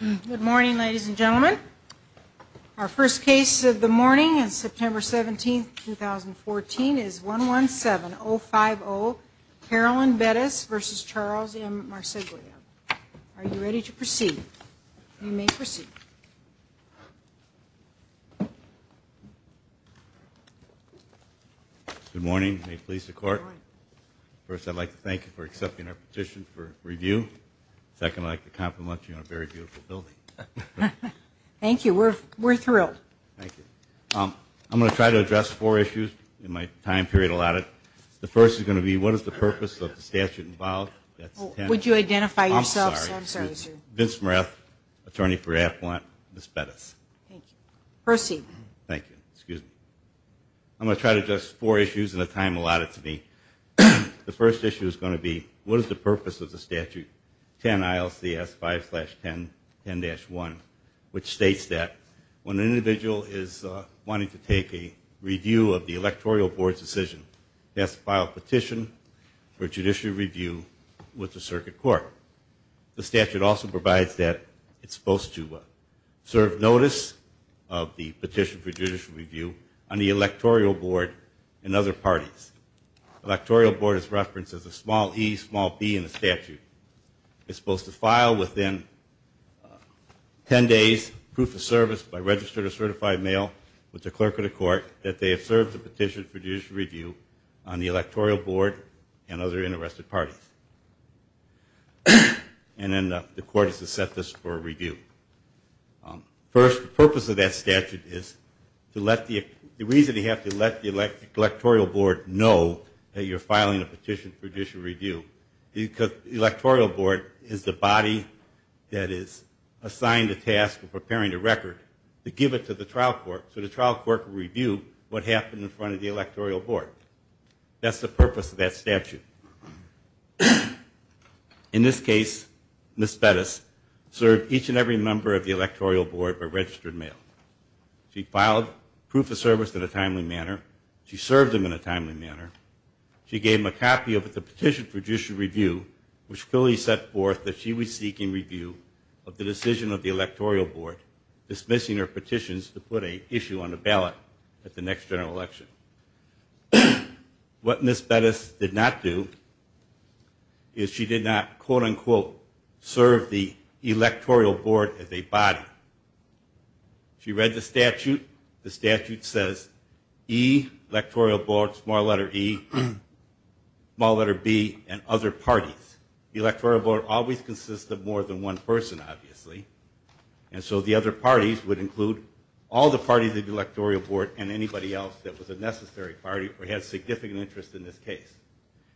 Good morning ladies and gentlemen. Our first case of the morning is September 17, 2014 is 117050, Carolyn Bettis v. Charles M. Marsaglia. Are you ready to proceed? You may proceed. Good morning. First I'd like to thank you for accepting our petition for review. Second, I'd like to compliment you on a very beautiful building. Thank you. We're thrilled. I'm going to try to address four issues in my time period allotted. The first is going to be what is the purpose of the statute involved? Would you identify yourselves? I'm sorry. Vince Marath, attorney for Affluent, Ms. Bettis. Proceed. Thank you. Excuse me. I'm going to try to address four issues in the time allotted to me. The first issue is going to be what is the purpose of the statute 10 ILCS 5-10-10-1, which states that when an individual is wanting to take a review of the electoral board's decision, he has to file a petition for judicial review with the circuit court. The statute also provides that it's supposed to serve notice of the petition for judicial review on the electoral board and other parties. Electoral board is referenced as a small e, small b in the statute. It's supposed to file within 10 days proof of service by registered or certified mail with the clerk of the court that they have served the petition for interested parties. And then the court is to set this for a review. First, the purpose of that statute is to let the reason you have to let the electoral board know that you're filing a petition for judicial review, because the electoral board is the body that is assigned a task of preparing a record to give it to the trial court. So the trial court will review what happened in front of the electoral board. That's the purpose of that statute. In this case, Ms. Bettis served each and every member of the electoral board by registered mail. She filed proof of service in a timely manner. She served them in a timely manner. She gave them a copy of the petition for judicial review, which clearly set forth that she was seeking review of the decision of the What Ms. Bettis did not do is she did not, quote unquote, serve the electoral board as a body. She read the statute. The statute says e, electoral board, small letter e, small letter b, and other parties. The electoral board always consists of more than one person, obviously. And so the other parties would include all the parties of the electoral board and anybody else that was a necessary party or had significant interest in this case.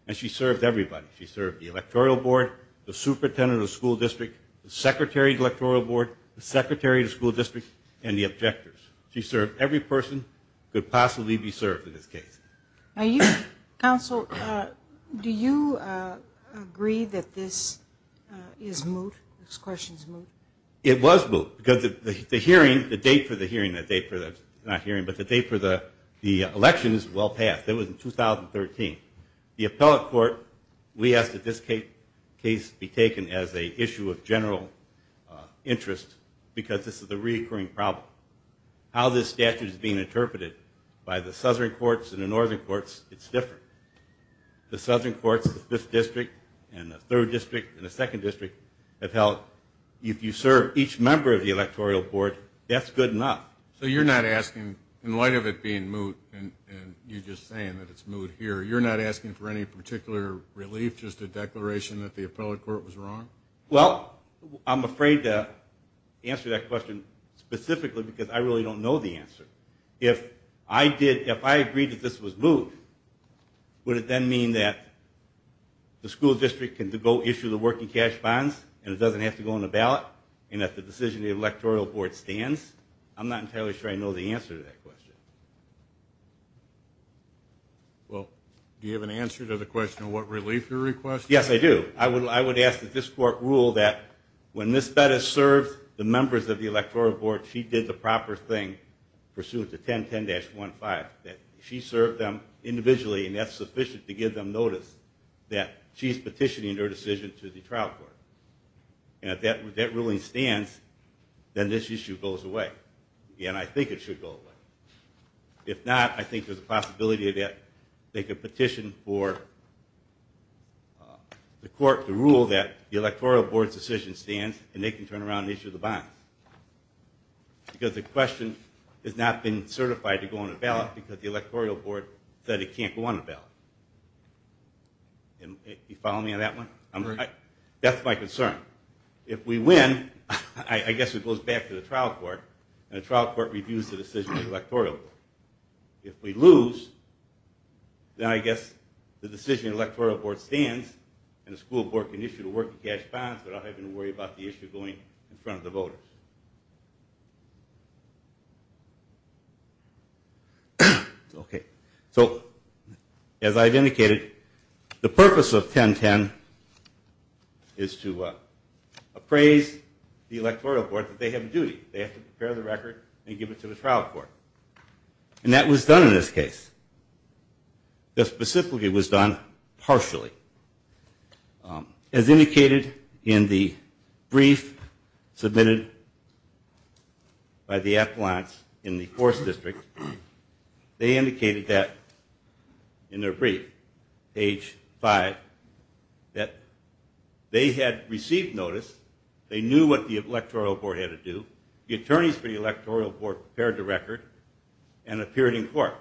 And she served everybody. She served the electoral board, the superintendent of the school district, the secretary of the electoral board, the secretary of the school district, and the objectors. She served every person who could possibly be served in this case. Counsel, do you agree that this is moot, this question is moot? It was moot because the hearing, the date for the hearing, not hearing, but the date for the election is well past. It was in 2013. The appellate court, we asked that this case be taken as an issue of general interest because this is a reoccurring problem. How this statute is being interpreted by the southern courts and the northern courts, it's different. The southern courts, the 5th District and the 3rd District and the 2nd District have held, if you serve each member of the electoral board, that's good enough. So you're not asking, in light of it being moot and you just saying that it's moot here, you're not asking for any particular relief, just a declaration that the appellate court was wrong? Well, I'm afraid to answer that question specifically because I really don't know the answer. If I agreed that this was moot, would it then mean that the school district can go issue the working cash bonds and it doesn't have to go on the ballot? And that the decision of the electoral board stands? I'm not entirely sure I know the answer to that question. Well, do you have an answer to the question of what relief you're requesting? Yes, I do. I would ask that this court rule that when Ms. Bettis served the members of the electoral board, she did the proper thing pursuant to 1010-15. That she served them individually and that's sufficient to give them notice that she's petitioning her decision to the trial court. And if that ruling stands, then this issue goes away. And I think it should go away. If not, I think there's a possibility that they could petition for the court to rule that the electoral board's decision stands and they can turn around and issue the bonds. Because the question has not been certified to go on the ballot because the electoral board said it can't go on the ballot. Are you following me on that one? That's my concern. If we win, I guess it goes back to the trial court and the trial court reviews the decision of the electoral board. If we lose, then I guess the decision of the electoral board stands and the school board can issue the working cash bonds without having to worry about the issue going in front of the voters. Okay. So as I've indicated, the purpose of 1010 is to appraise the electoral board that they have a duty. They have to prepare the record and give it to the trial court. And that was done in this case. The specificity was done partially. As indicated in the brief submitted by the appellants in the course district, they indicated that in their brief, page 5, that they had received notice, they knew what the electoral board had to do, the attorneys for the electoral board prepared the record and appeared in court.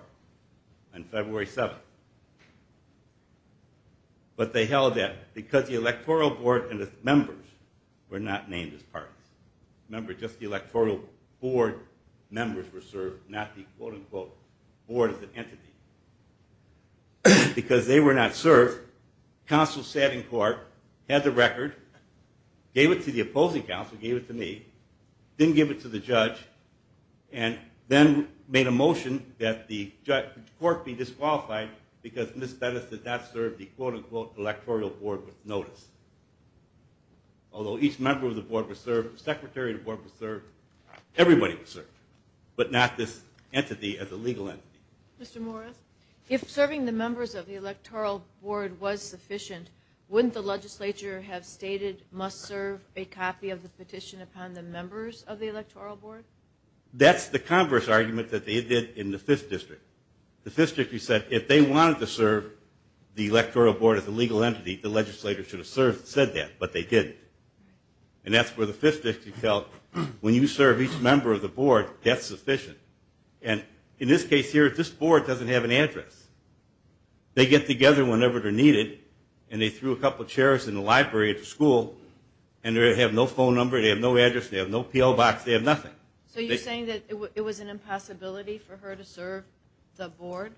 On February 7th. But they held that because the electoral board and its members were not named as parties. Remember, just the electoral board members were served, not the quote-unquote board as an entity. Because they were not served, counsel sat in court, had the record, gave it to the opposing counsel, gave it to me, didn't give it to the judge, and then made a motion that the court be disqualified because Ms. Bettis did not serve the quote-unquote electoral board with notice. Although each member of the board was served, the secretary of the board was served, everybody was served, but not this entity as a legal entity. Mr. Morris, if serving the members of the electoral board was sufficient, wouldn't the legislature have stated, must serve a copy of the petition upon the members of the electoral board? That's the converse argument that they did in the 5th district. The 5th district said if they wanted to serve the electoral board as a legal entity, the legislature should have said that, but they didn't. And that's where the 5th district felt, when you serve each member of the board, that's sufficient. And in this case here, this board doesn't have an address. They get together whenever they're needed, and they threw a couple chairs in the library at the school, and they have no phone number, they have no address, they have no P.O. box, they have nothing. So you're saying that it was an impossibility for her to serve the board?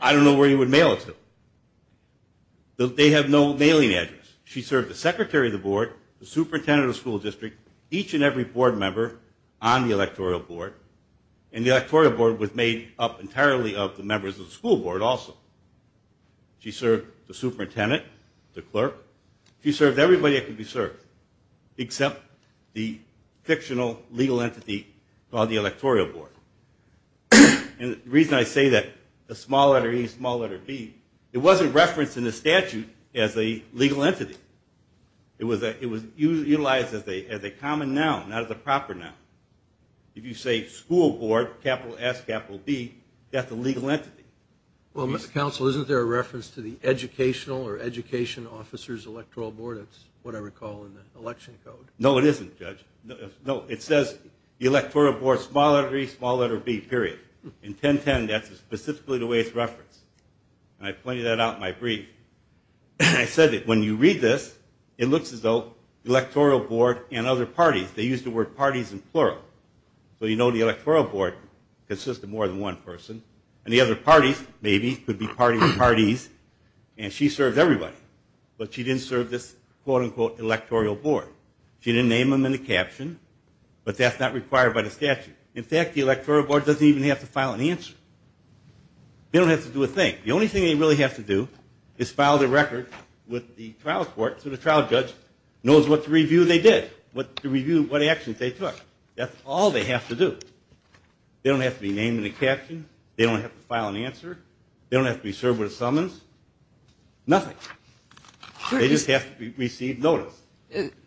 I don't know where you would mail it to. They have no mailing address. She served the secretary of the board, the superintendent of the school district, each and every board member on the electoral board, and the electoral board was made up entirely of the members of the school board also. She served the superintendent, the clerk. She served everybody that could be served, except the fictional legal entity called the electoral board. And the reason I say that, the small letter E, small letter B, it wasn't referenced in the statute as a legal entity. It was utilized as a common noun, not as a proper noun. If you say school board, capital S, capital B, that's a legal entity. Well, Mr. Counsel, isn't there a reference to the educational or education officer's electoral board? That's what I recall in the election code. No, it isn't, Judge. No, it says the electoral board, small letter E, small letter B, period. In 1010, that's specifically the way it's referenced. And I pointed that out in my brief. I said that when you read this, it looks as though the electoral board and other parties, they used the word parties in plural. So you know the electoral board consists of more than one person. And the other parties, maybe, could be parties and she served everybody. But she didn't serve this, quote, unquote, electoral board. She didn't name them in the caption, but that's not required by the statute. In fact, the electoral board doesn't even have to file an answer. They don't have to do a thing. The only thing they really have to do is file their record with the trial court so the trial judge knows what review they did, what actions they took. That's all they have to do. They don't have to be named in the caption. They don't have to file an answer. They don't have to be served with a summons. Nothing. They just have to receive notice.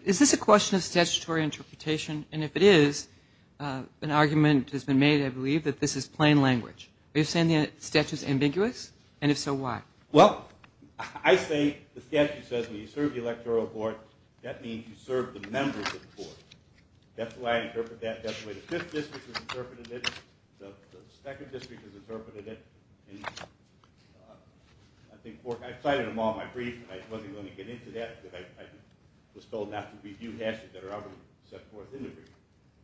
Is this a question of statutory interpretation? And if it is, an argument has been made, I believe, that this is plain language. Are you saying the statute is ambiguous? And if so, why? Well, I say the statute says when you serve the electoral board, that means you serve the members of the board. That's the way I interpret that. That's the way the 5th District has interpreted it. The 2nd District has interpreted it. And I cited them all in my brief. I wasn't going to get into that because I was told not to review the actions that are already set forth in the brief.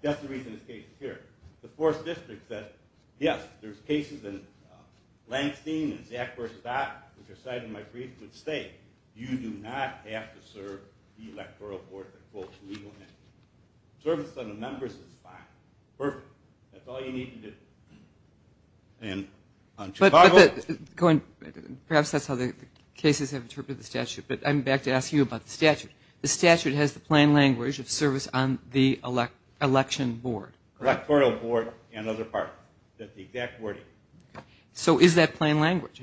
That's the reason this case is here. The 4th District said, yes, there's cases in Langstein and Zach versus Dodd, which are cited in my brief, you do not have to serve the electoral board. Service on the members is fine. Perfect. That's all you need to do. Perhaps that's how the cases have interpreted the statute. But I'm back to ask you about the statute. The statute has the plain language of service on the election board. Electoral board and other parties. That's the exact wording. So is that plain language?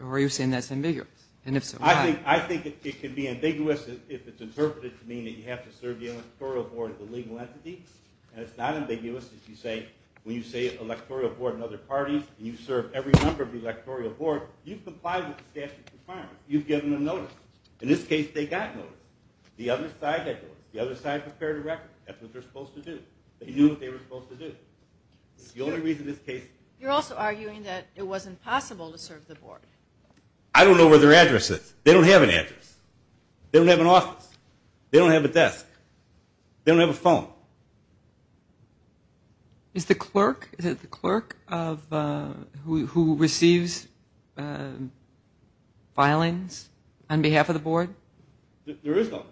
Or are you saying that's ambiguous? And if so, why? I think it can be ambiguous if it's interpreted to mean that you have to serve the electoral board as a legal entity. And it's not ambiguous if you say, when you say electoral board and other parties and you serve every member of the electoral board, you've complied with the statute requirement. You've given them notice. In this case, they got notice. The other side had notice. The other side prepared a record. They knew what they were supposed to do. The only reason this case is here. You're also arguing that it wasn't possible to serve the board. I don't know where their address is. They don't have an address. They don't have an office. They don't have a desk. They don't have a phone. Is it the clerk who receives filings on behalf of the board? There is no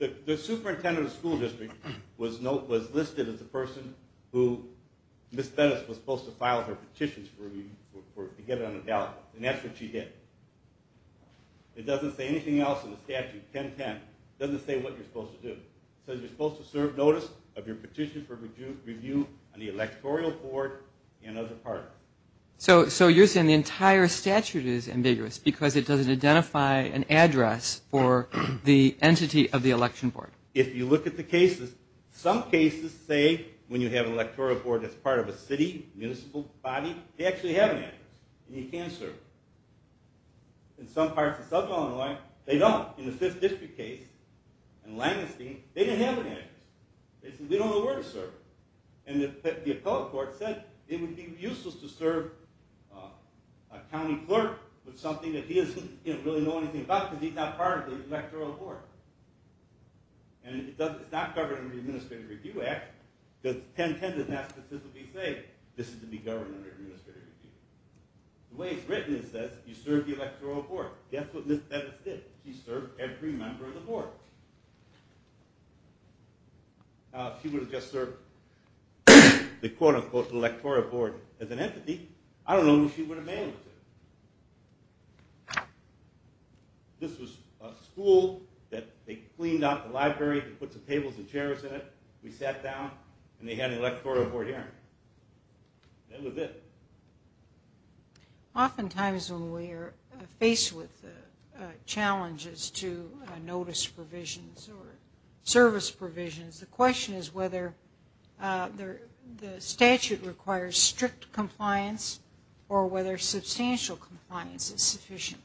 clerk. The superintendent of the school district was listed as the person who Ms. Bettis was supposed to file her petitions for review to get it on the ballot. And that's what she did. It doesn't say anything else in the statute, 1010. It doesn't say what you're supposed to do. It says you're supposed to serve notice of your petition for review on the electoral board and other parties. So you're saying the entire statute is ambiguous because it doesn't identify an address for the entity of the election board. If you look at the cases, some cases say when you have an electoral board that's part of a city, municipal body, they actually have an address and you can serve it. In some parts of southern Illinois, they don't. In the 5th District case in Langenstein, they didn't have an address. They said, we don't know where to serve it. And the appellate court said it would be useless to serve a county clerk with something that he doesn't really know anything about because he's not part of the electoral board. And it's not covered under the Administrative Review Act because 1010 doesn't ask that this be saved. This is to be governed under the Administrative Review Act. The way it's written is that you serve the electoral board. That's what Ms. Bevis did. She served every member of the board. If she would have just served the, quote unquote, electoral board as an entity, I don't know if she would have managed it. This was a school that they cleaned out the library and put some tables and chairs in it. We sat down and they had an electoral board hearing. That was it. Oftentimes when we are faced with challenges to notice provisions or service provisions, the question is whether the statute requires strict compliance or whether substantial compliance is sufficient.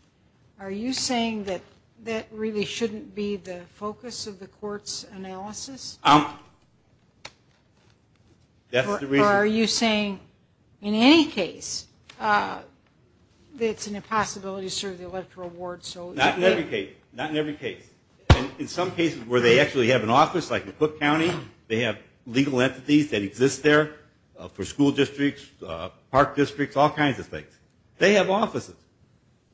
Are you saying that that really shouldn't be the focus of the court's analysis? Or are you saying in any case that it's an impossibility to serve the electoral board? Not in every case. Not in every case. In some cases where they actually have an office, like in Cook County, they have legal entities that exist there for school districts, park districts, all kinds of things. They have offices.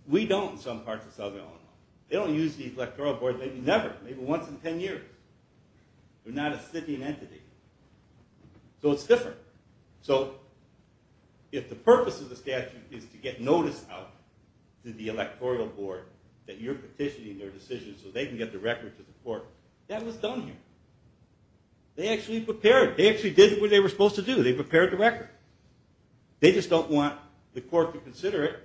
We don't in some parts of Southern Illinois. They don't use the electoral board maybe never, maybe once in 10 years. They're not a sitting entity. So it's different. So if the purpose of the statute is to get notice out to the electoral board that you're petitioning their decisions so they can get the record to the court, that was done here. They actually prepared it. They actually did what they were supposed to do. They prepared the record. They just don't want the court to consider it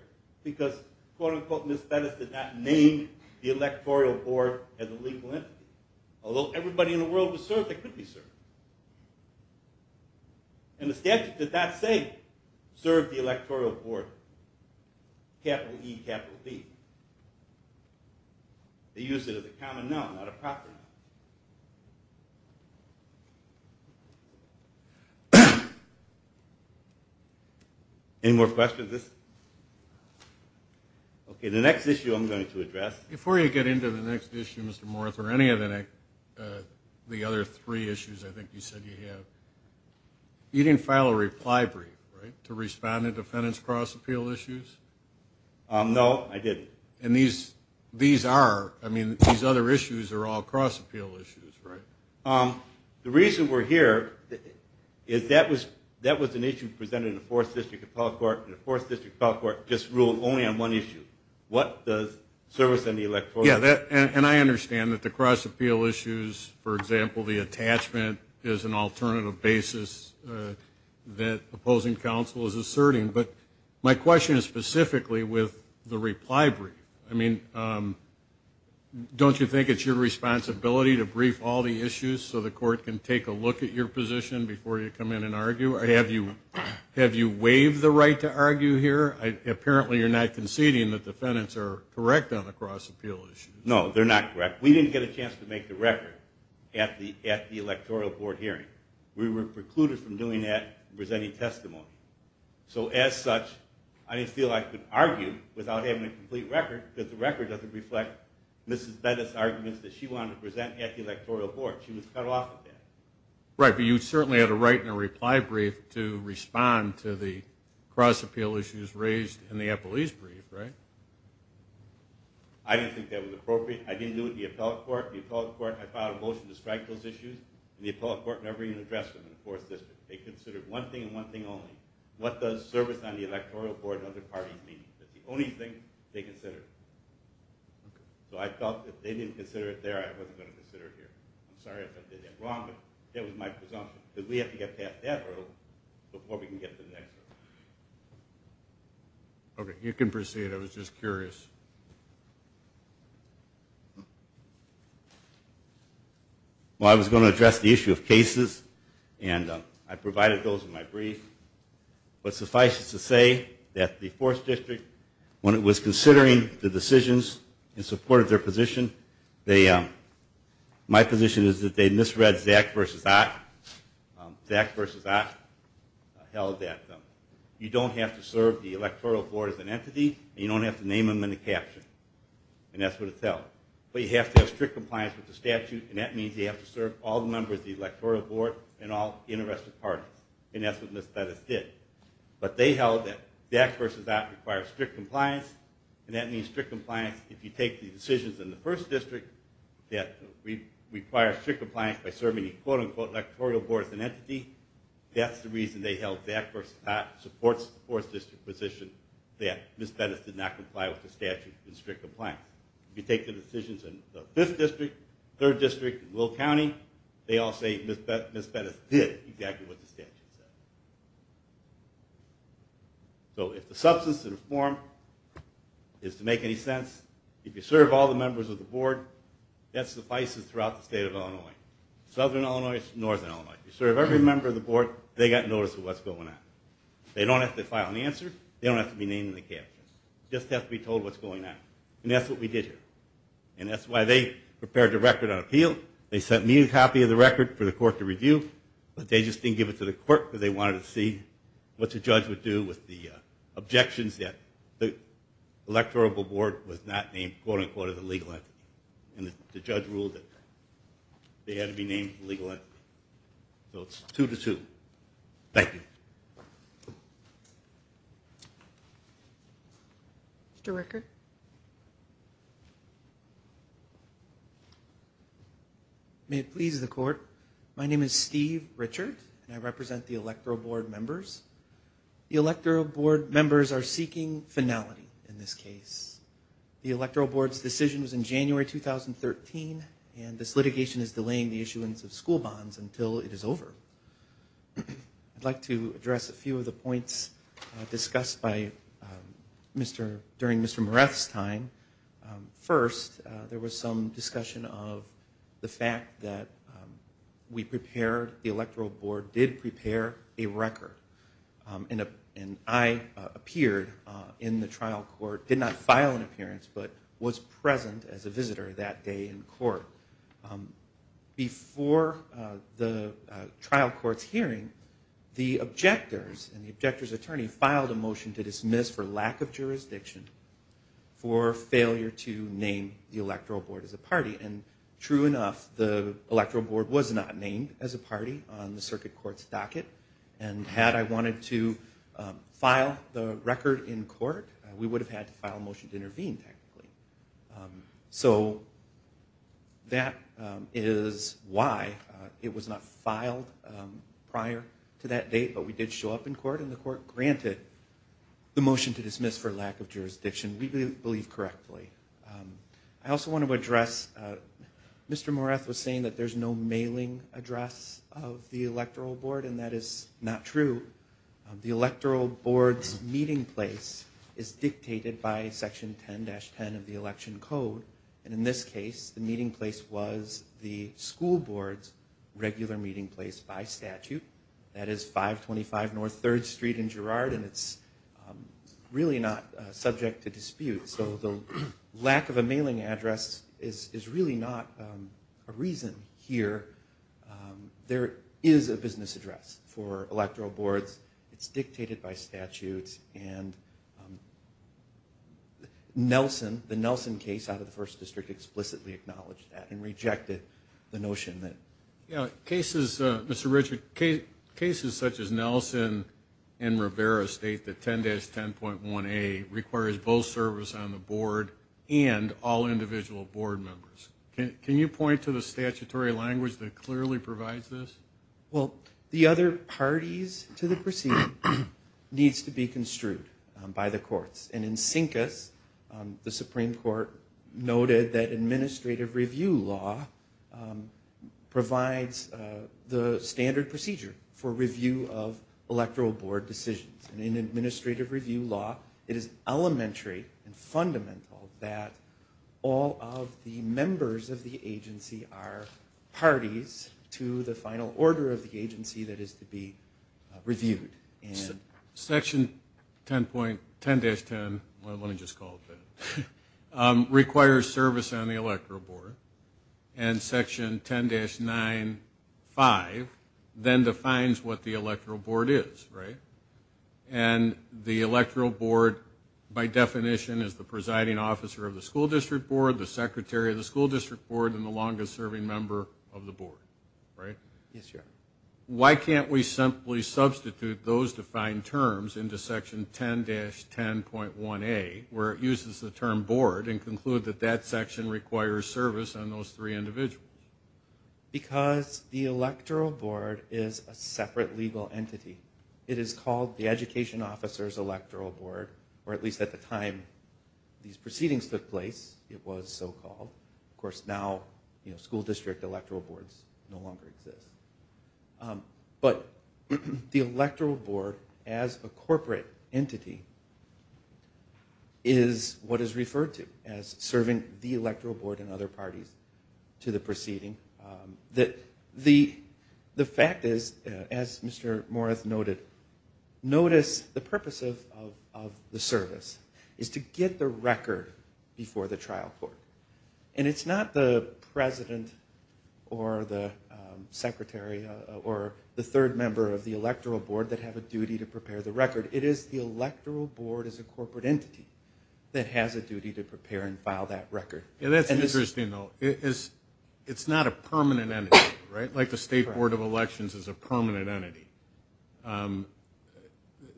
because, quote, unquote, Ms. Fettus did not name the electoral board as a legal entity. Although everybody in the world was served, they couldn't be served. And the statute did not say serve the electoral board, capital E, capital B. They used it as a common noun, not a proper noun. Any more questions? Okay, the next issue I'm going to address. Before you get into the next issue, Mr. Morse, or any of the other three issues I think you said you have, you didn't file a reply brief, right, to respond to defendants' cross-appeal issues? No, I didn't. And these are, I mean, these other issues are all cross-appeal issues. Right. The reason we're here is that was an issue presented in the 4th District Appellate Court, and the 4th District Appellate Court just ruled only on one issue, what the service on the electoral board. Yeah, and I understand that the cross-appeal issues, for example, the attachment is an alternative basis that opposing counsel is asserting. But my question is specifically with the reply brief. I mean, don't you think it's your responsibility to brief all the issues so the court can take a look at your position before you come in and argue? Have you waived the right to argue here? Apparently you're not conceding that defendants are correct on the cross-appeal issue. No, they're not correct. We didn't get a chance to make the record at the electoral board hearing. We were precluded from doing that with any testimony. So as such, I didn't feel I could argue without having a complete record because the record doesn't reflect Mrs. Bennett's arguments that she wanted to present at the electoral board. She was cut off at that. Right, but you certainly had a right in a reply brief to respond to the cross-appeal issues raised in the appellee's brief, right? I didn't think that was appropriate. I didn't do it at the appellate court. The appellate court had filed a motion to strike those issues, and the appellate court never even addressed them in the 4th District. They considered one thing and one thing only. What does service on the electoral board and other parties mean? That's the only thing they considered. So I felt if they didn't consider it there, I wasn't going to consider it here. I'm sorry if I did that wrong, but that was my presumption, that we have to get past that hurdle before we can get to the next hurdle. Okay, you can proceed. I was just curious. Well, I was going to address the issue of cases, and I provided those in my brief. But suffice it to say that the 4th District, when it was considering the decisions in support of their position, my position is that they misread Zach v. Ock. Zach v. Ock held that you don't have to serve the electoral board as an entity, and you don't have to name them in the caption. And that's what it tells. But you have to have strict compliance with the statute, and that means you have to serve all the members of the electoral board and all interested parties. And that's what Ms. Bettis did. But they held that Zach v. Ock requires strict compliance, and that means strict compliance if you take the decisions in the 1st District that require strict compliance by serving the, quote-unquote, electoral board as an entity. That's the reason they held Zach v. Ock supports the 4th District position that Ms. Bettis did not comply with the statute and strict compliance. If you take the decisions in the 5th District, 3rd District, and Will County, they all say Ms. Bettis did exactly what the statute said. So if the substance of the form is to make any sense, if you serve all the members of the board, that suffices throughout the state of Illinois. Southern Illinois is Northern Illinois. If you serve every member of the board, they got notice of what's going on. They don't have to file an answer. They don't have to be named in the cap. They just have to be told what's going on. And that's what we did here. And that's why they prepared the record on appeal. They sent me a copy of the record for the court to review, but they just didn't give it to the court because they wanted to see what the judge would do with the objections that the electoral board was not named, quote-unquote, as a legal entity. And the judge ruled that they had to be named a legal entity. So it's 2-2. Thank you. Mr. Rickert. May it please the court. My name is Steve Richard, and I represent the electoral board members. The electoral board members are seeking finality in this case. The electoral board's decision was in January 2013, and this litigation is delaying the issuance of school bonds until it is over. I'd like to address a few of the points discussed during Mr. Moreff's time. First, there was some discussion of the fact that we prepared, the electoral board did prepare a record. And I appeared in the trial court, did not file an appearance, but was present as a visitor that day in court. Before the trial court's hearing, the objectors and the objector's attorney filed a motion to dismiss for lack of jurisdiction for failure to name the electoral board as a party. And true enough, the electoral board was not named as a party on the circuit court's docket and had I wanted to file the record in court, we would have had to file a motion to intervene technically. So that is why it was not filed prior to that date, but we did show up in court and the court granted the motion to dismiss for lack of jurisdiction. We believe correctly. I also want to address, Mr. Moreff was saying that there's no mailing address of the electoral board and that is not true. The electoral board's meeting place is dictated by section 10-10 of the election code. And in this case, the meeting place was the school board's regular meeting place by statute. That is 525 North 3rd Street in Girard and it's really not subject to dispute. So the lack of a mailing address is really not a reason here. There is a business address for electoral boards. It's dictated by statutes and Nelson, the Nelson case out of the First District, explicitly acknowledged that and rejected the notion that... Yeah, cases, Mr. Richard, cases such as Nelson and Rivera state that 10-10.1A requires both service on the board and all individual board members. Can you point to the statutory language that clearly provides this? Well, the other parties to the proceeding needs to be construed by the courts. And in CINCAS, the Supreme Court noted that administrative review law provides the standard procedure for review of electoral board decisions. And in administrative review law, it is elementary and fundamental that all of the members of the agency are parties to the final order of the agency that is to be reviewed. Section 10-10, let me just call it that, requires service on the electoral board. And Section 10-9.5 then defines what the electoral board is, right? And the electoral board, by definition, is the presiding officer of the school district board, the secretary of the school district board, and the longest serving member of the board, right? Why can't we simply substitute those defined terms into Section 10-10.1A, where it uses the term board, and conclude that that section requires service on those three individuals? Because the electoral board is a separate legal entity. It is called the education officer's electoral board, or at least at the time these proceedings took place, it was so-called. Of course, now school district electoral boards no longer exist. But the electoral board, as a corporate entity, is what is referred to as serving the electoral board and other parties to the proceeding. The fact is, as Mr. Morath noted, notice the purpose of the service is to get the record before the trial court. And it's not the president or the secretary or the third member of the electoral board that have a duty to prepare the record. It is the electoral board as a corporate entity that has a duty to prepare and file that record. That's interesting, though. It's not a permanent entity, right? Like the State Board of Elections is a permanent entity.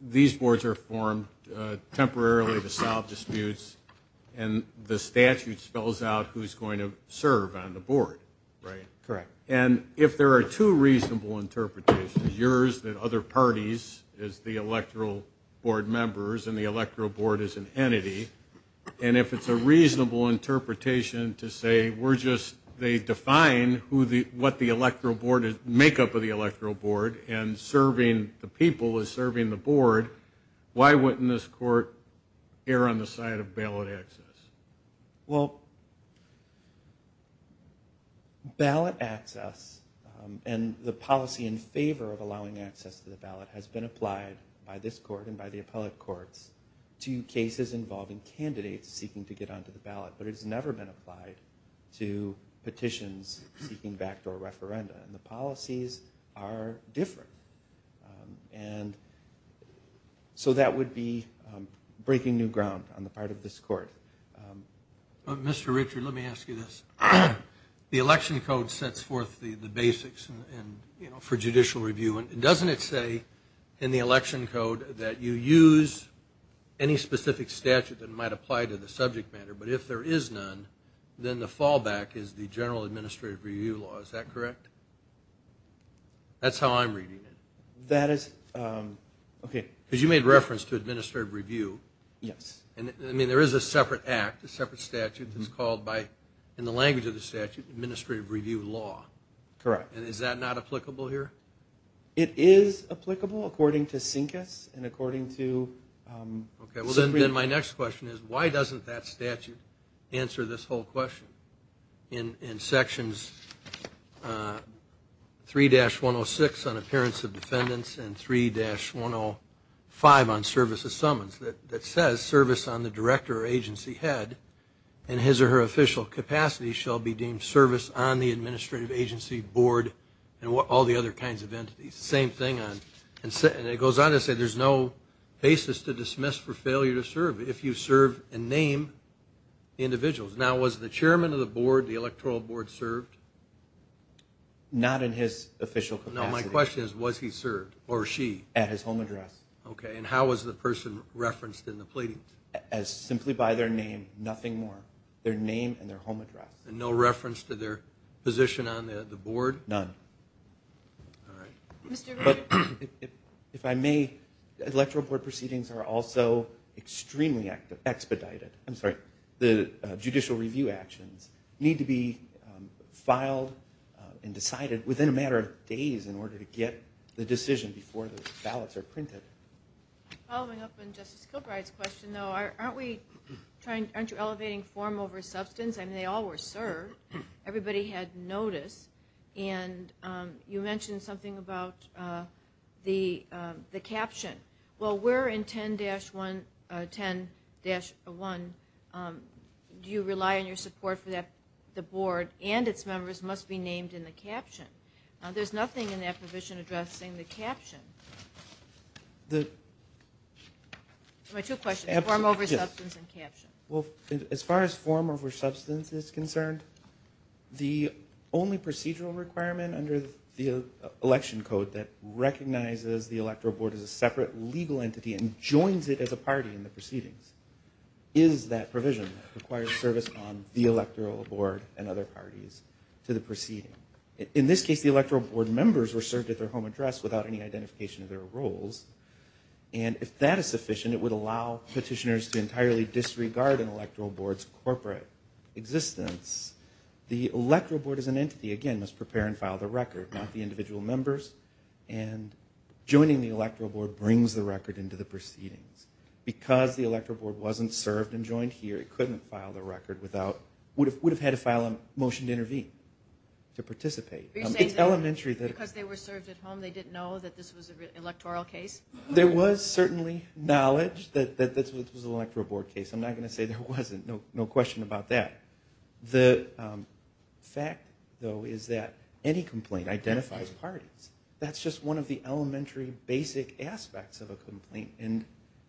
These boards are formed temporarily to solve disputes, and the statute spells out who's going to serve on the board, right? Correct. And if there are two reasonable interpretations, yours that other parties is the electoral board members and the electoral board is an entity, and if it's a reasonable interpretation to say they define what the electoral board is, make up of the electoral board, and serving the people is serving the board, why wouldn't this court err on the side of ballot access? Well, ballot access and the policy in favor of allowing access to the ballot has been applied by this court and by the appellate courts to cases involving candidates seeking to get onto the ballot, but it has never been applied to petitions seeking backdoor referenda. And the policies are different. And so that would be breaking new ground on the part of this court. Mr. Richard, let me ask you this. The election code sets forth the basics for judicial review, and doesn't it say in the election code that you use any specific statute that might apply to the subject matter, but if there is none, then the fallback is the general administrative review law. Is that correct? That's how I'm reading it. That is, okay. Because you made reference to administrative review. Yes. I mean, there is a separate act, a separate statute that's called by, in the language of the statute, administrative review law. Correct. And is that not applicable here? It is applicable according to CINCAS and according to... Okay. Well, then my next question is why doesn't that statute answer this whole question? In sections 3-106 on appearance of defendants and 3-105 on service of summons, that says service on the director or agency head in his or her official capacity shall be deemed service on the administrative agency, board, and all the other kinds of entities. Same thing on... And it goes on to say there's no basis to dismiss for failure to serve if you serve and name individuals. Now, was the chairman of the board, the electoral board, served? Not in his official capacity. Now, my question is, was he served or she? At his home address. Okay. And how was the person referenced in the pleading? Simply by their name, nothing more. Their name and their home address. And no reference to their position on the board? None. All right. Mr. Gregg. If I may, electoral board proceedings are also extremely expedited. I'm sorry. The judicial review actions need to be filed and decided within a matter of days in order to get the decision before the ballots are printed. Following up on Justice Kilbride's question, though, aren't you elevating form over substance? I mean, they all were served. Everybody had notice. And you mentioned something about the caption. Well, where in 10-1 do you rely on your support for the board and its members must be named in the caption? There's nothing in that provision addressing the caption. My two questions, form over substance and caption. As far as form over substance is concerned, the only procedural requirement under the election code that recognizes the corporate legal entity and joins it as a party in the proceedings is that provision that requires service on the electoral board and other parties to the proceeding. In this case, the electoral board members were served at their home address without any identification of their roles. And if that is sufficient, it would allow petitioners to entirely disregard an electoral board's corporate existence. The electoral board as an entity, again, must prepare and file the record, not the individual members. And joining the electoral board brings the record into the proceedings. Because the electoral board wasn't served and joined here, it couldn't file the record without, would have had to file a motion to intervene, to participate. It's elementary. Because they were served at home, they didn't know that this was an electoral case? There was certainly knowledge that this was an electoral board case. I'm not going to say there wasn't. No question about that. The fact, though, is that any complaint identifies parties. That's just one of the elementary basic aspects of a complaint.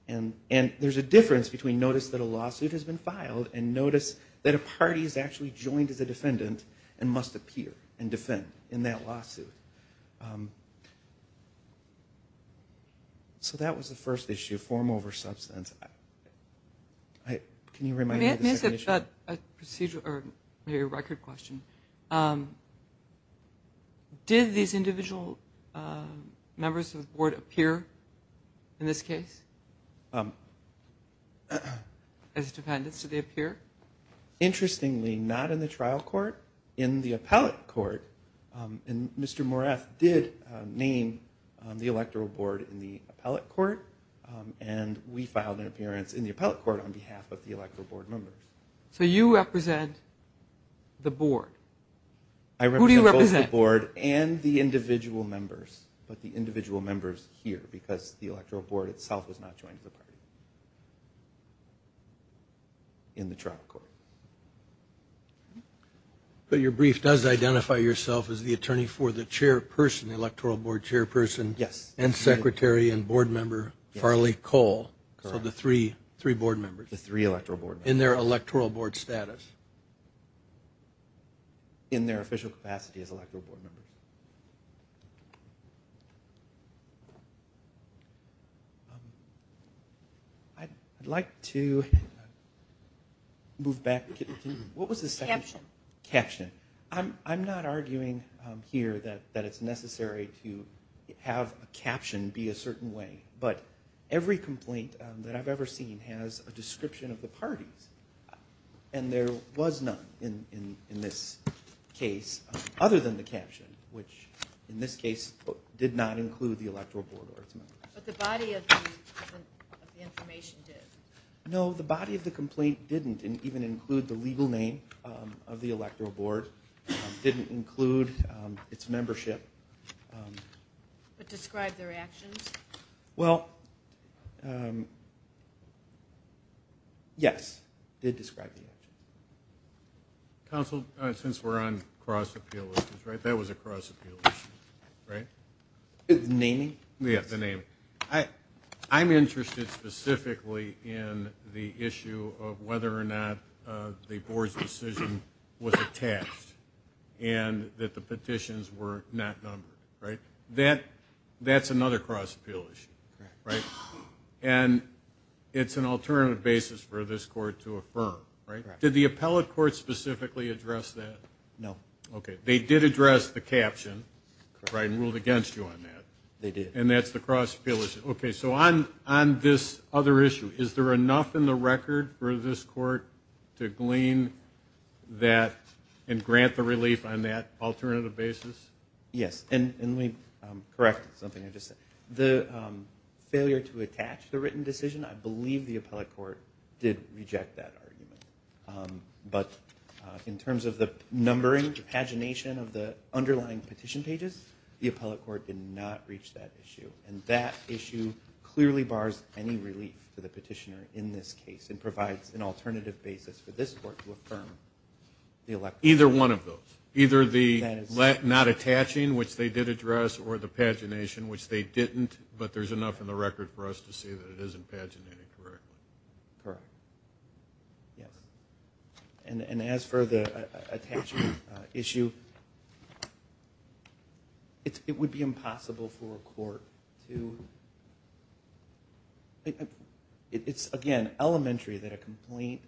And there's a difference between notice that a lawsuit has been filed and notice that a party is actually joined as a defendant and must appear and defend in that lawsuit. So that was the first issue, form over substance. Can you remind me of the second issue? Maybe a record question. Did these individual members of the board appear in this case as defendants? Did they appear? Interestingly, not in the trial court, in the appellate court. And Mr. Morath did name the electoral board in the appellate court, and we filed an appearance in the appellate court on behalf of the electoral board members. So you represent the board? Who do you represent? I represent both the board and the individual members, but the individual members here, because the electoral board itself was not joined in the trial court. But your brief does identify yourself as the attorney for the chairperson, the electoral board chairperson? Yes. And secretary and board member Farley Cole. Correct. So the three board members. The three electoral board members. In their electoral board status. In their official capacity as electoral board members. I'd like to move back. What was the second? Caption. Caption. I'm not arguing here that it's necessary to have a caption be a certain way. But every complaint that I've ever seen has a description of the parties. And there was none in this case, other than the caption, which in this case did not include the electoral board or its members. But the body of the information did. No, the body of the complaint didn't even include the legal name of the board, didn't include its membership. But describe their actions? Well, yes, it described the actions. Counsel, since we're on cross-appeal issues, right, that was a cross-appeal issue, right? Naming? Yes, the naming. I'm interested specifically in the issue of whether or not the board's decision was attached and that the petitions were not numbered, right? That's another cross-appeal issue, right? And it's an alternative basis for this court to affirm, right? Did the appellate court specifically address that? No. Okay. They did address the caption, right, and ruled against you on that. They did. And that's the cross-appeal issue. Okay. So on this other issue, is there enough in the record for this court to glean that and grant the relief on that alternative basis? Yes. And let me correct something I just said. The failure to attach the written decision, I believe the appellate court did reject that argument. But in terms of the numbering, the pagination of the underlying petition pages, the appellate court did not reach that issue. And that issue clearly bars any relief for the petitioner in this case and provides an alternative basis for this court to affirm the election. Either one of those. Either the not attaching, which they did address, or the pagination, which they didn't. But there's enough in the record for us to see that it isn't paginated correctly. Correct. Yes. And as for the attaching issue, it would be impossible for a court to, it's, again, elementary that a complaint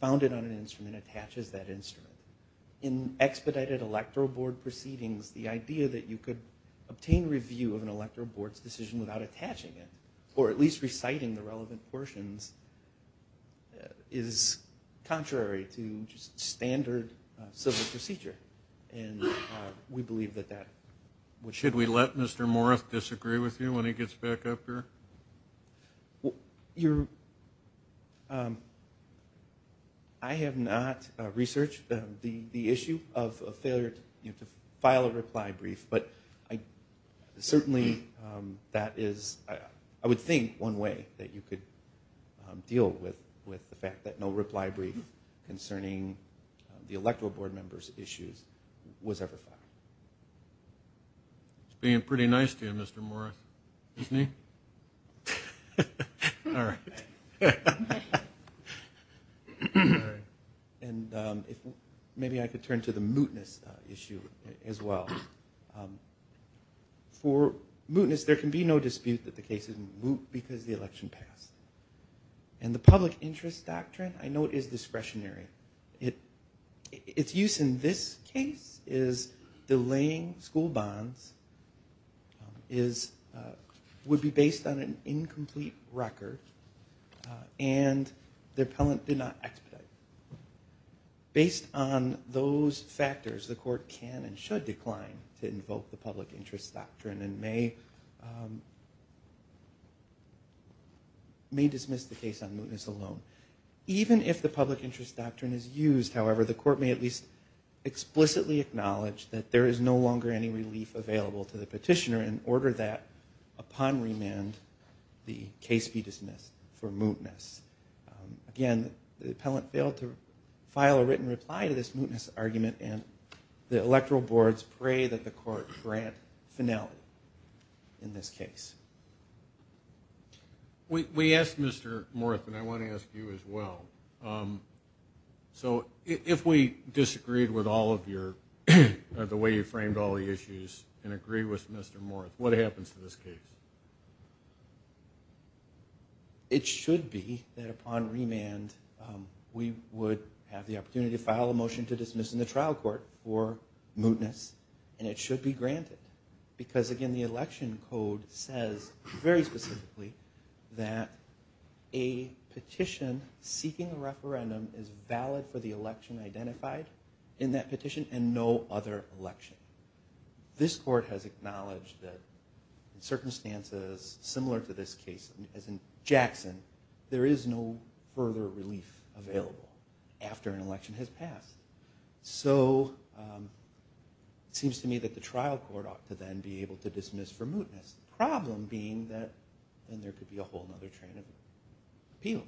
founded on an instrument attaches that instrument. In expedited electoral board proceedings, the idea that you could obtain review of an electoral board's decision without attaching it, or at least reciting the relevant portions, is contrary to just standard civil procedure. And we believe that that would. Should we let Mr. Morris disagree with you when he gets back up here? I have not researched the issue of a failure to file a reply brief, but certainly that is, I would think one way that you could deal with the fact that no reply brief concerning the electoral board members' issues was ever filed. That's being pretty nice to you, Mr. Morris, isn't he? All right. And maybe I could turn to the mootness issue as well. For mootness, there can be no dispute that the case is moot because the election passed. And the public interest doctrine, I know it is discretionary. Its use in this case is delaying school bonds, would be based on an incomplete record, and the appellant did not expedite. Based on those factors, the court can and should decline to invoke the public interest doctrine and may dismiss the case on mootness alone. Even if the public interest doctrine is used, however, the court may at least explicitly acknowledge that there is no longer any relief available to the petitioner in order that, upon remand, the case be dismissed for mootness. Again, the appellant failed to file a written reply to this mootness argument, and the electoral boards pray that the court grant finality in this case. We asked Mr. Morris, and I want to ask you as well. So if we disagreed with all of your, the way you framed all the issues and agree with Mr. Morris, what happens to this case? It should be that upon remand, we would have the opportunity to file a motion to dismiss in the trial court for mootness, and it should be granted because, again, the election code says very specifically that a petition seeking a referendum is valid for the election identified in that petition and no other election. This court has acknowledged that in circumstances similar to this case, as in Jackson, there is no further relief available after an election has passed. So it seems to me that the trial court ought to then be able to dismiss for mootness, the problem being that then there could be a whole other train of appeals.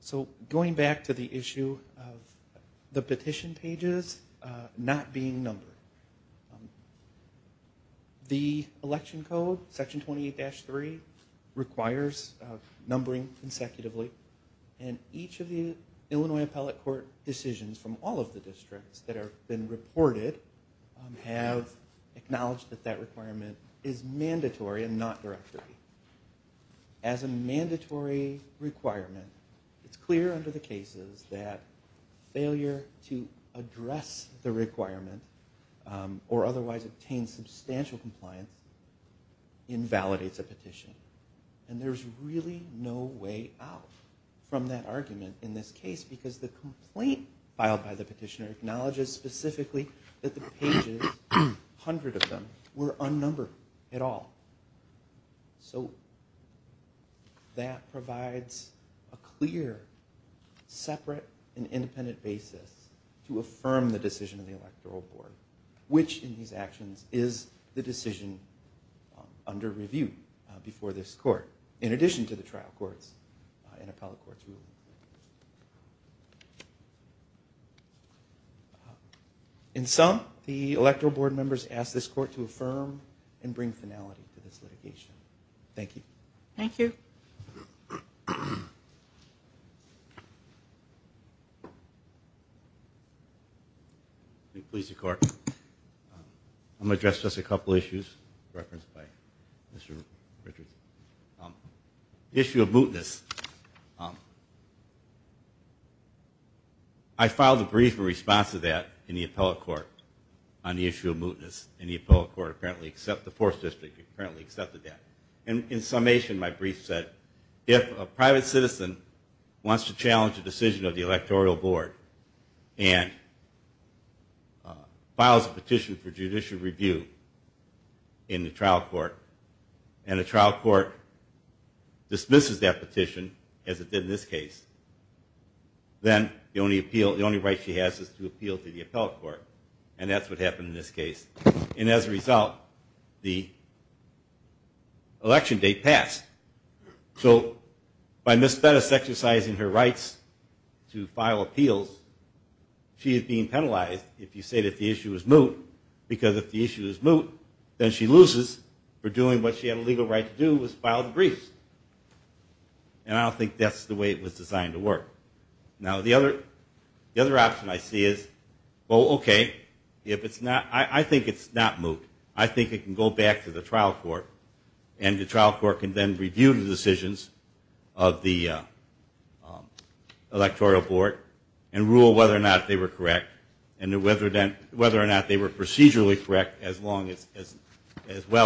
So going back to the issue of the petition pages not being numbered, the election code, Section 28-3, requires numbering consecutively, and each of the Illinois Appellate Court decisions from all of the districts that have been reported have acknowledged that the petition pages have acknowledged that that requirement is mandatory and not directory. As a mandatory requirement, it's clear under the cases that failure to address the requirement or otherwise obtain substantial compliance invalidates a petition, and there's really no way out from that argument in this case because the complaint filed by the petitioner acknowledges specifically that the pages, 100 of them, were unnumbered at all. So that provides a clear, separate and independent basis to affirm the decision of the Electoral Board, which in these actions is the decision under review before this court, in addition to the trial courts, and appellate courts. In sum, the Electoral Board members ask this court to affirm and bring finality to this litigation. Thank you. Thank you. Please, your court. I'm going to address just a couple issues referenced by Mr. Richards. The issue of mootness. I filed a brief response to that in the appellate court on the issue of mootness, and the appellate court apparently accepted that. In summation, my brief said, if a private citizen wants to challenge the decision of the Electoral Board and files a petition for judicial review in the trial court, and the trial court dismisses that petition, as it did in this case, then the only right she has is to appeal to the appellate court. And that's what happened in this case. And as a result, the election date passed. So by Ms. Bettis exercising her rights to file appeals, she is being penalized if you say that the issue is moot, because if the issue is moot, then she loses for doing what she had a legal right to do, was file the briefs. And I don't think that's the way it was designed to work. Now, the other option I see is, oh, okay, I think it's not moot. I think it can go back to the trial court, and the trial court can then review the decisions of the Electoral Board and rule whether or not they were correct and whether or not they were procedurally correct as well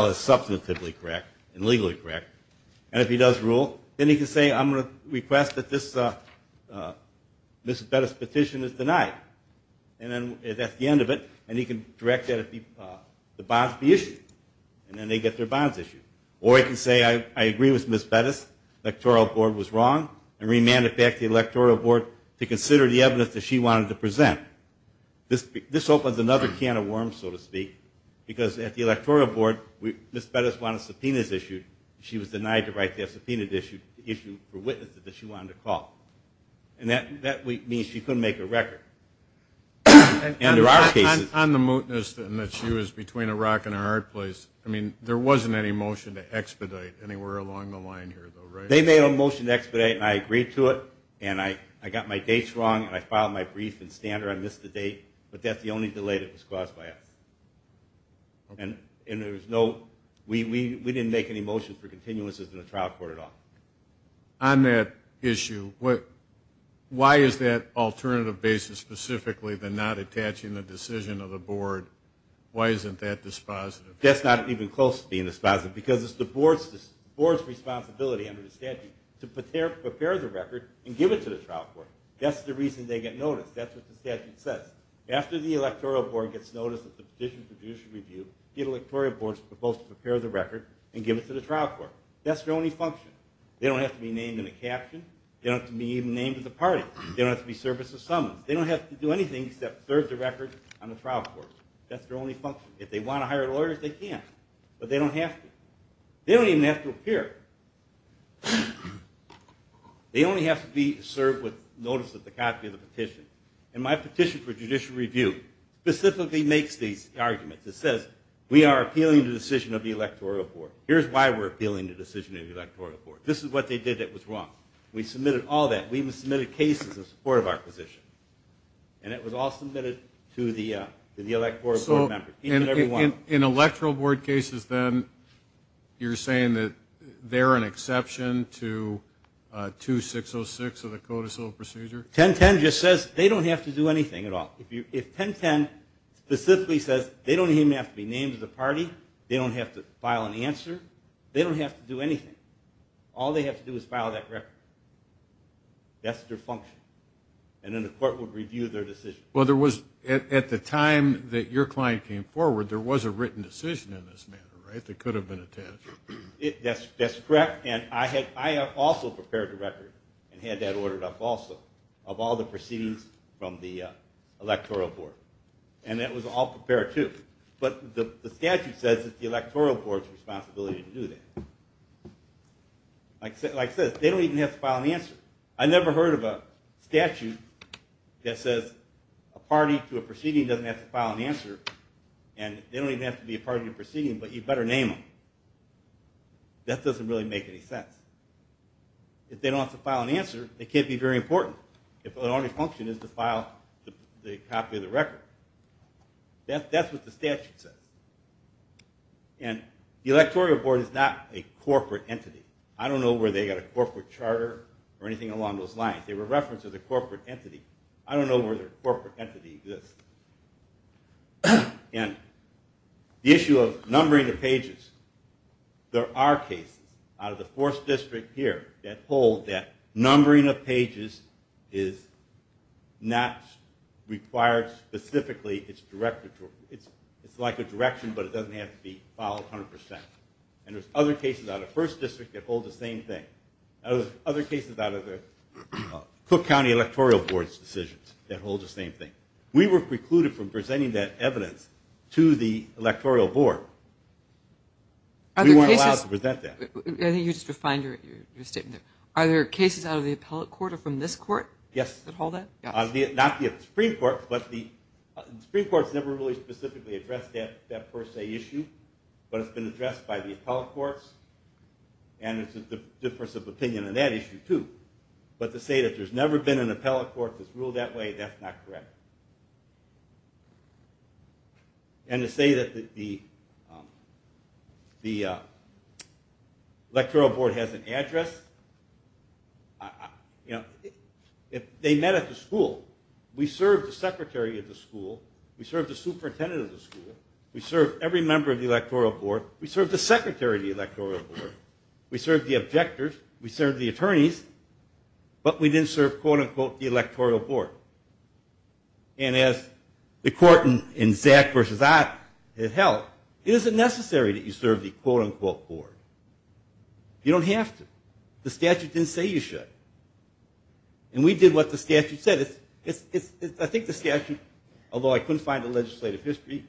as substantively correct and legally correct. And if he does rule, then he can say, I'm going to request that this Ms. Bettis petition is denied. And then that's the end of it, and he can direct that the bonds be issued. And then they get their bonds issued. Or he can say, I agree with Ms. Bettis, the Electoral Board was wrong, and remand it back to the Electoral Board to consider the evidence that she wanted to present. This opens another can of worms, so to speak, because at the Electoral Board, Ms. Bettis wanted subpoenas issued. She was denied to write that subpoena issue for witnesses that she wanted to call. And that means she couldn't make a record. And there are cases... On the mootness, and that she was between a rock and a hard place, I mean, there wasn't any motion to expedite anywhere along the line here, though, right? They made a motion to expedite, and I agreed to it, and I got my dates wrong, and I filed my brief in Standard, I missed the date, but that's the only delay that was caused by us. And there was no... We didn't make any motions for continuances in the trial court at all. On that issue, why is that alternative basis specifically the not attaching the decision of the board? Why isn't that dispositive? That's not even close to being dispositive, because it's the board's responsibility under the statute to prepare the record and give it to the trial court. That's the reason they get noticed. That's what the statute says. After the electoral board gets notice of the position for judicial review, the electoral board is supposed to prepare the record and give it to the trial court. That's their only function. They don't have to be named in a caption. They don't have to be even named at the party. They don't have to be service or summons. They don't have to do anything except serve the record on the trial court. That's their only function. If they want to hire lawyers, they can, but they don't have to. They don't even have to appear. They only have to be served with notice of the copy of the petition. My petition for judicial review specifically makes these arguments. It says we are appealing the decision of the electoral board. Here's why we're appealing the decision of the electoral board. This is what they did that was wrong. We submitted all that. We even submitted cases in support of our position, and it was all submitted to the electoral board members. In electoral board cases, then, you're saying that they're an exception to 2-606 of the Code of Civil Procedure? 1010 just says they don't have to do anything at all. If 1010 specifically says they don't even have to be named at the party, they don't have to file an answer, they don't have to do anything. All they have to do is file that record. That's their function, and then the court would review their decision. At the time that your client came forward, there was a written decision in this matter, right? It could have been a test. That's correct, and I also prepared the record and had that ordered up also of all the proceedings from the electoral board, and that was all prepared, too. But the statute says it's the electoral board's responsibility to do that. Like I said, they don't even have to file an answer. I never heard of a statute that says a party to a proceeding doesn't have to file an answer, and they don't even have to be a party to a proceeding, but you better name them. That doesn't really make any sense. If they don't have to file an answer, they can't be very important if their only function is to file the copy of the record. That's what the statute says. And the electoral board is not a corporate entity. I don't know where they got a corporate charter or anything along those lines. They were referenced as a corporate entity. I don't know where their corporate entity exists. And the issue of numbering of pages. There are cases out of the 4th District here that hold that numbering of pages is not required specifically. It's like a direction, but it doesn't have to be filed 100%. And there's other cases out of 1st District that hold the same thing. There's other cases out of the Cook County Electoral Board's decisions that hold the same thing. We were precluded from presenting that evidence to the electoral board. We weren't allowed to present that. I think you just refined your statement there. Are there cases out of the appellate court or from this court that hold that? Yes. Not the Supreme Court, but the Supreme Court's never really specifically addressed that per se issue, but it's been addressed by the appellate courts, and it's a difference of opinion on that issue, too. But to say that there's never been an appellate court that's ruled that way, that's not correct. And to say that the electoral board has an address, they met at the school. We served the secretary of the school. We served the superintendent of the school. We served every member of the electoral board. We served the secretary of the electoral board. We served the objectors. We served the attorneys, but we didn't serve, quote-unquote, the electoral board. And as the court in Zack versus Ott held, it isn't necessary that you serve the, quote-unquote, board. You don't have to. The statute didn't say you should. And we did what the statute said. I think the statute, although I couldn't find the legislative history,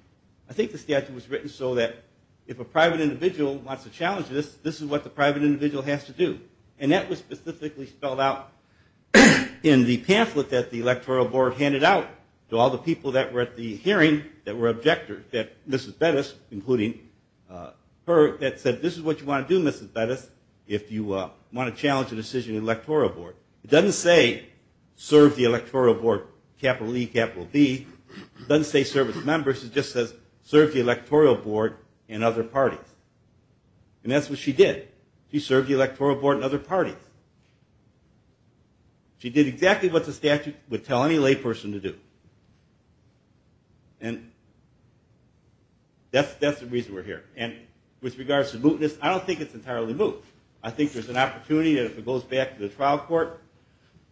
I think the statute was written so that if a private individual wants to challenge this, this is what the private individual has to do. And that was specifically spelled out in the pamphlet that the electoral board handed out to all the people that were at the hearing that were objectors, that Mrs. Bettis, including her, that said, this is what you want to do, Mrs. Bettis, if you want to challenge the decision of the electoral board. It doesn't say serve the electoral board, capital E, capital B. It doesn't say serve its members. It just says serve the electoral board and other parties. And that's what she did. She served the electoral board and other parties. She did exactly what the statute would tell any layperson to do. And that's the reason we're here. And with regards to mootness, I don't think it's entirely moot. I think there's an opportunity that if it goes back to the trial court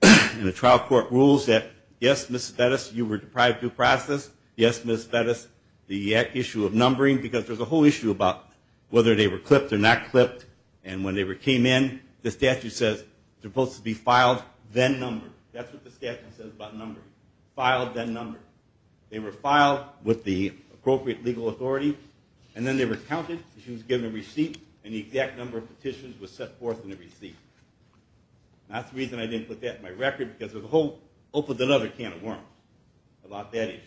and the trial court rules that, yes, Mrs. Bettis, you were deprived due process, yes, Mrs. Bettis, the issue of numbering, because there's a whole issue about whether they were clipped or not clipped. And when they came in, the statute says, they're supposed to be filed, then numbered. That's what the statute says about numbers. Filed, then numbered. They were filed with the appropriate legal authority, and then they were counted. She was given a receipt, and the exact number of petitions was set forth in the receipt. That's the reason I didn't put that in my record, because there's a whole other can of worms about that issue.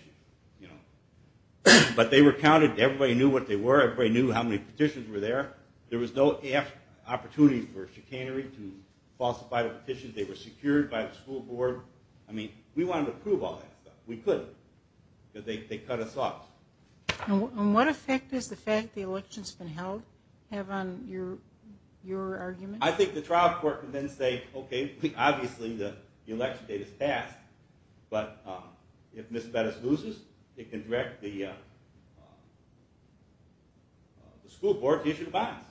But they were counted. Everybody knew what they were. Everybody knew how many petitions were there. There was no opportunity for chicanery to falsify the petitions. They were secured by the school board. I mean, we wanted to prove all that stuff. We couldn't, because they cut us off. And what effect does the fact that the election's been held have on your argument? I think the trial court can then say, okay, obviously the election date is passed, but if Ms. Bettis loses, it can direct the school board to issue the bonds,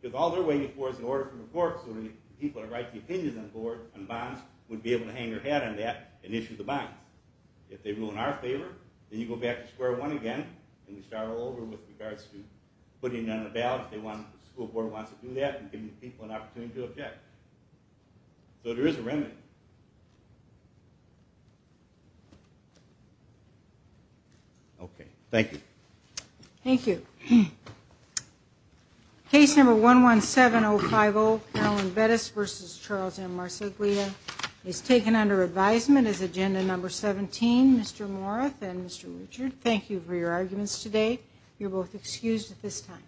because all they're waiting for is an order from the court so the people that write the opinions on bonds would be able to hang their hat on that and issue the bonds. If they ruin our favor, then you go back to square one again, and you start all over with regards to putting in a ballot if the school board wants to do that and giving people an opportunity to object. So there is a remedy. Okay, thank you. Thank you. Case number 117050, Carolyn Bettis v. Charles M. Marceglia, is taken under advisement as agenda number 17. Mr. Morath and Mr. Richard, thank you for your arguments today. You're both excused at this time.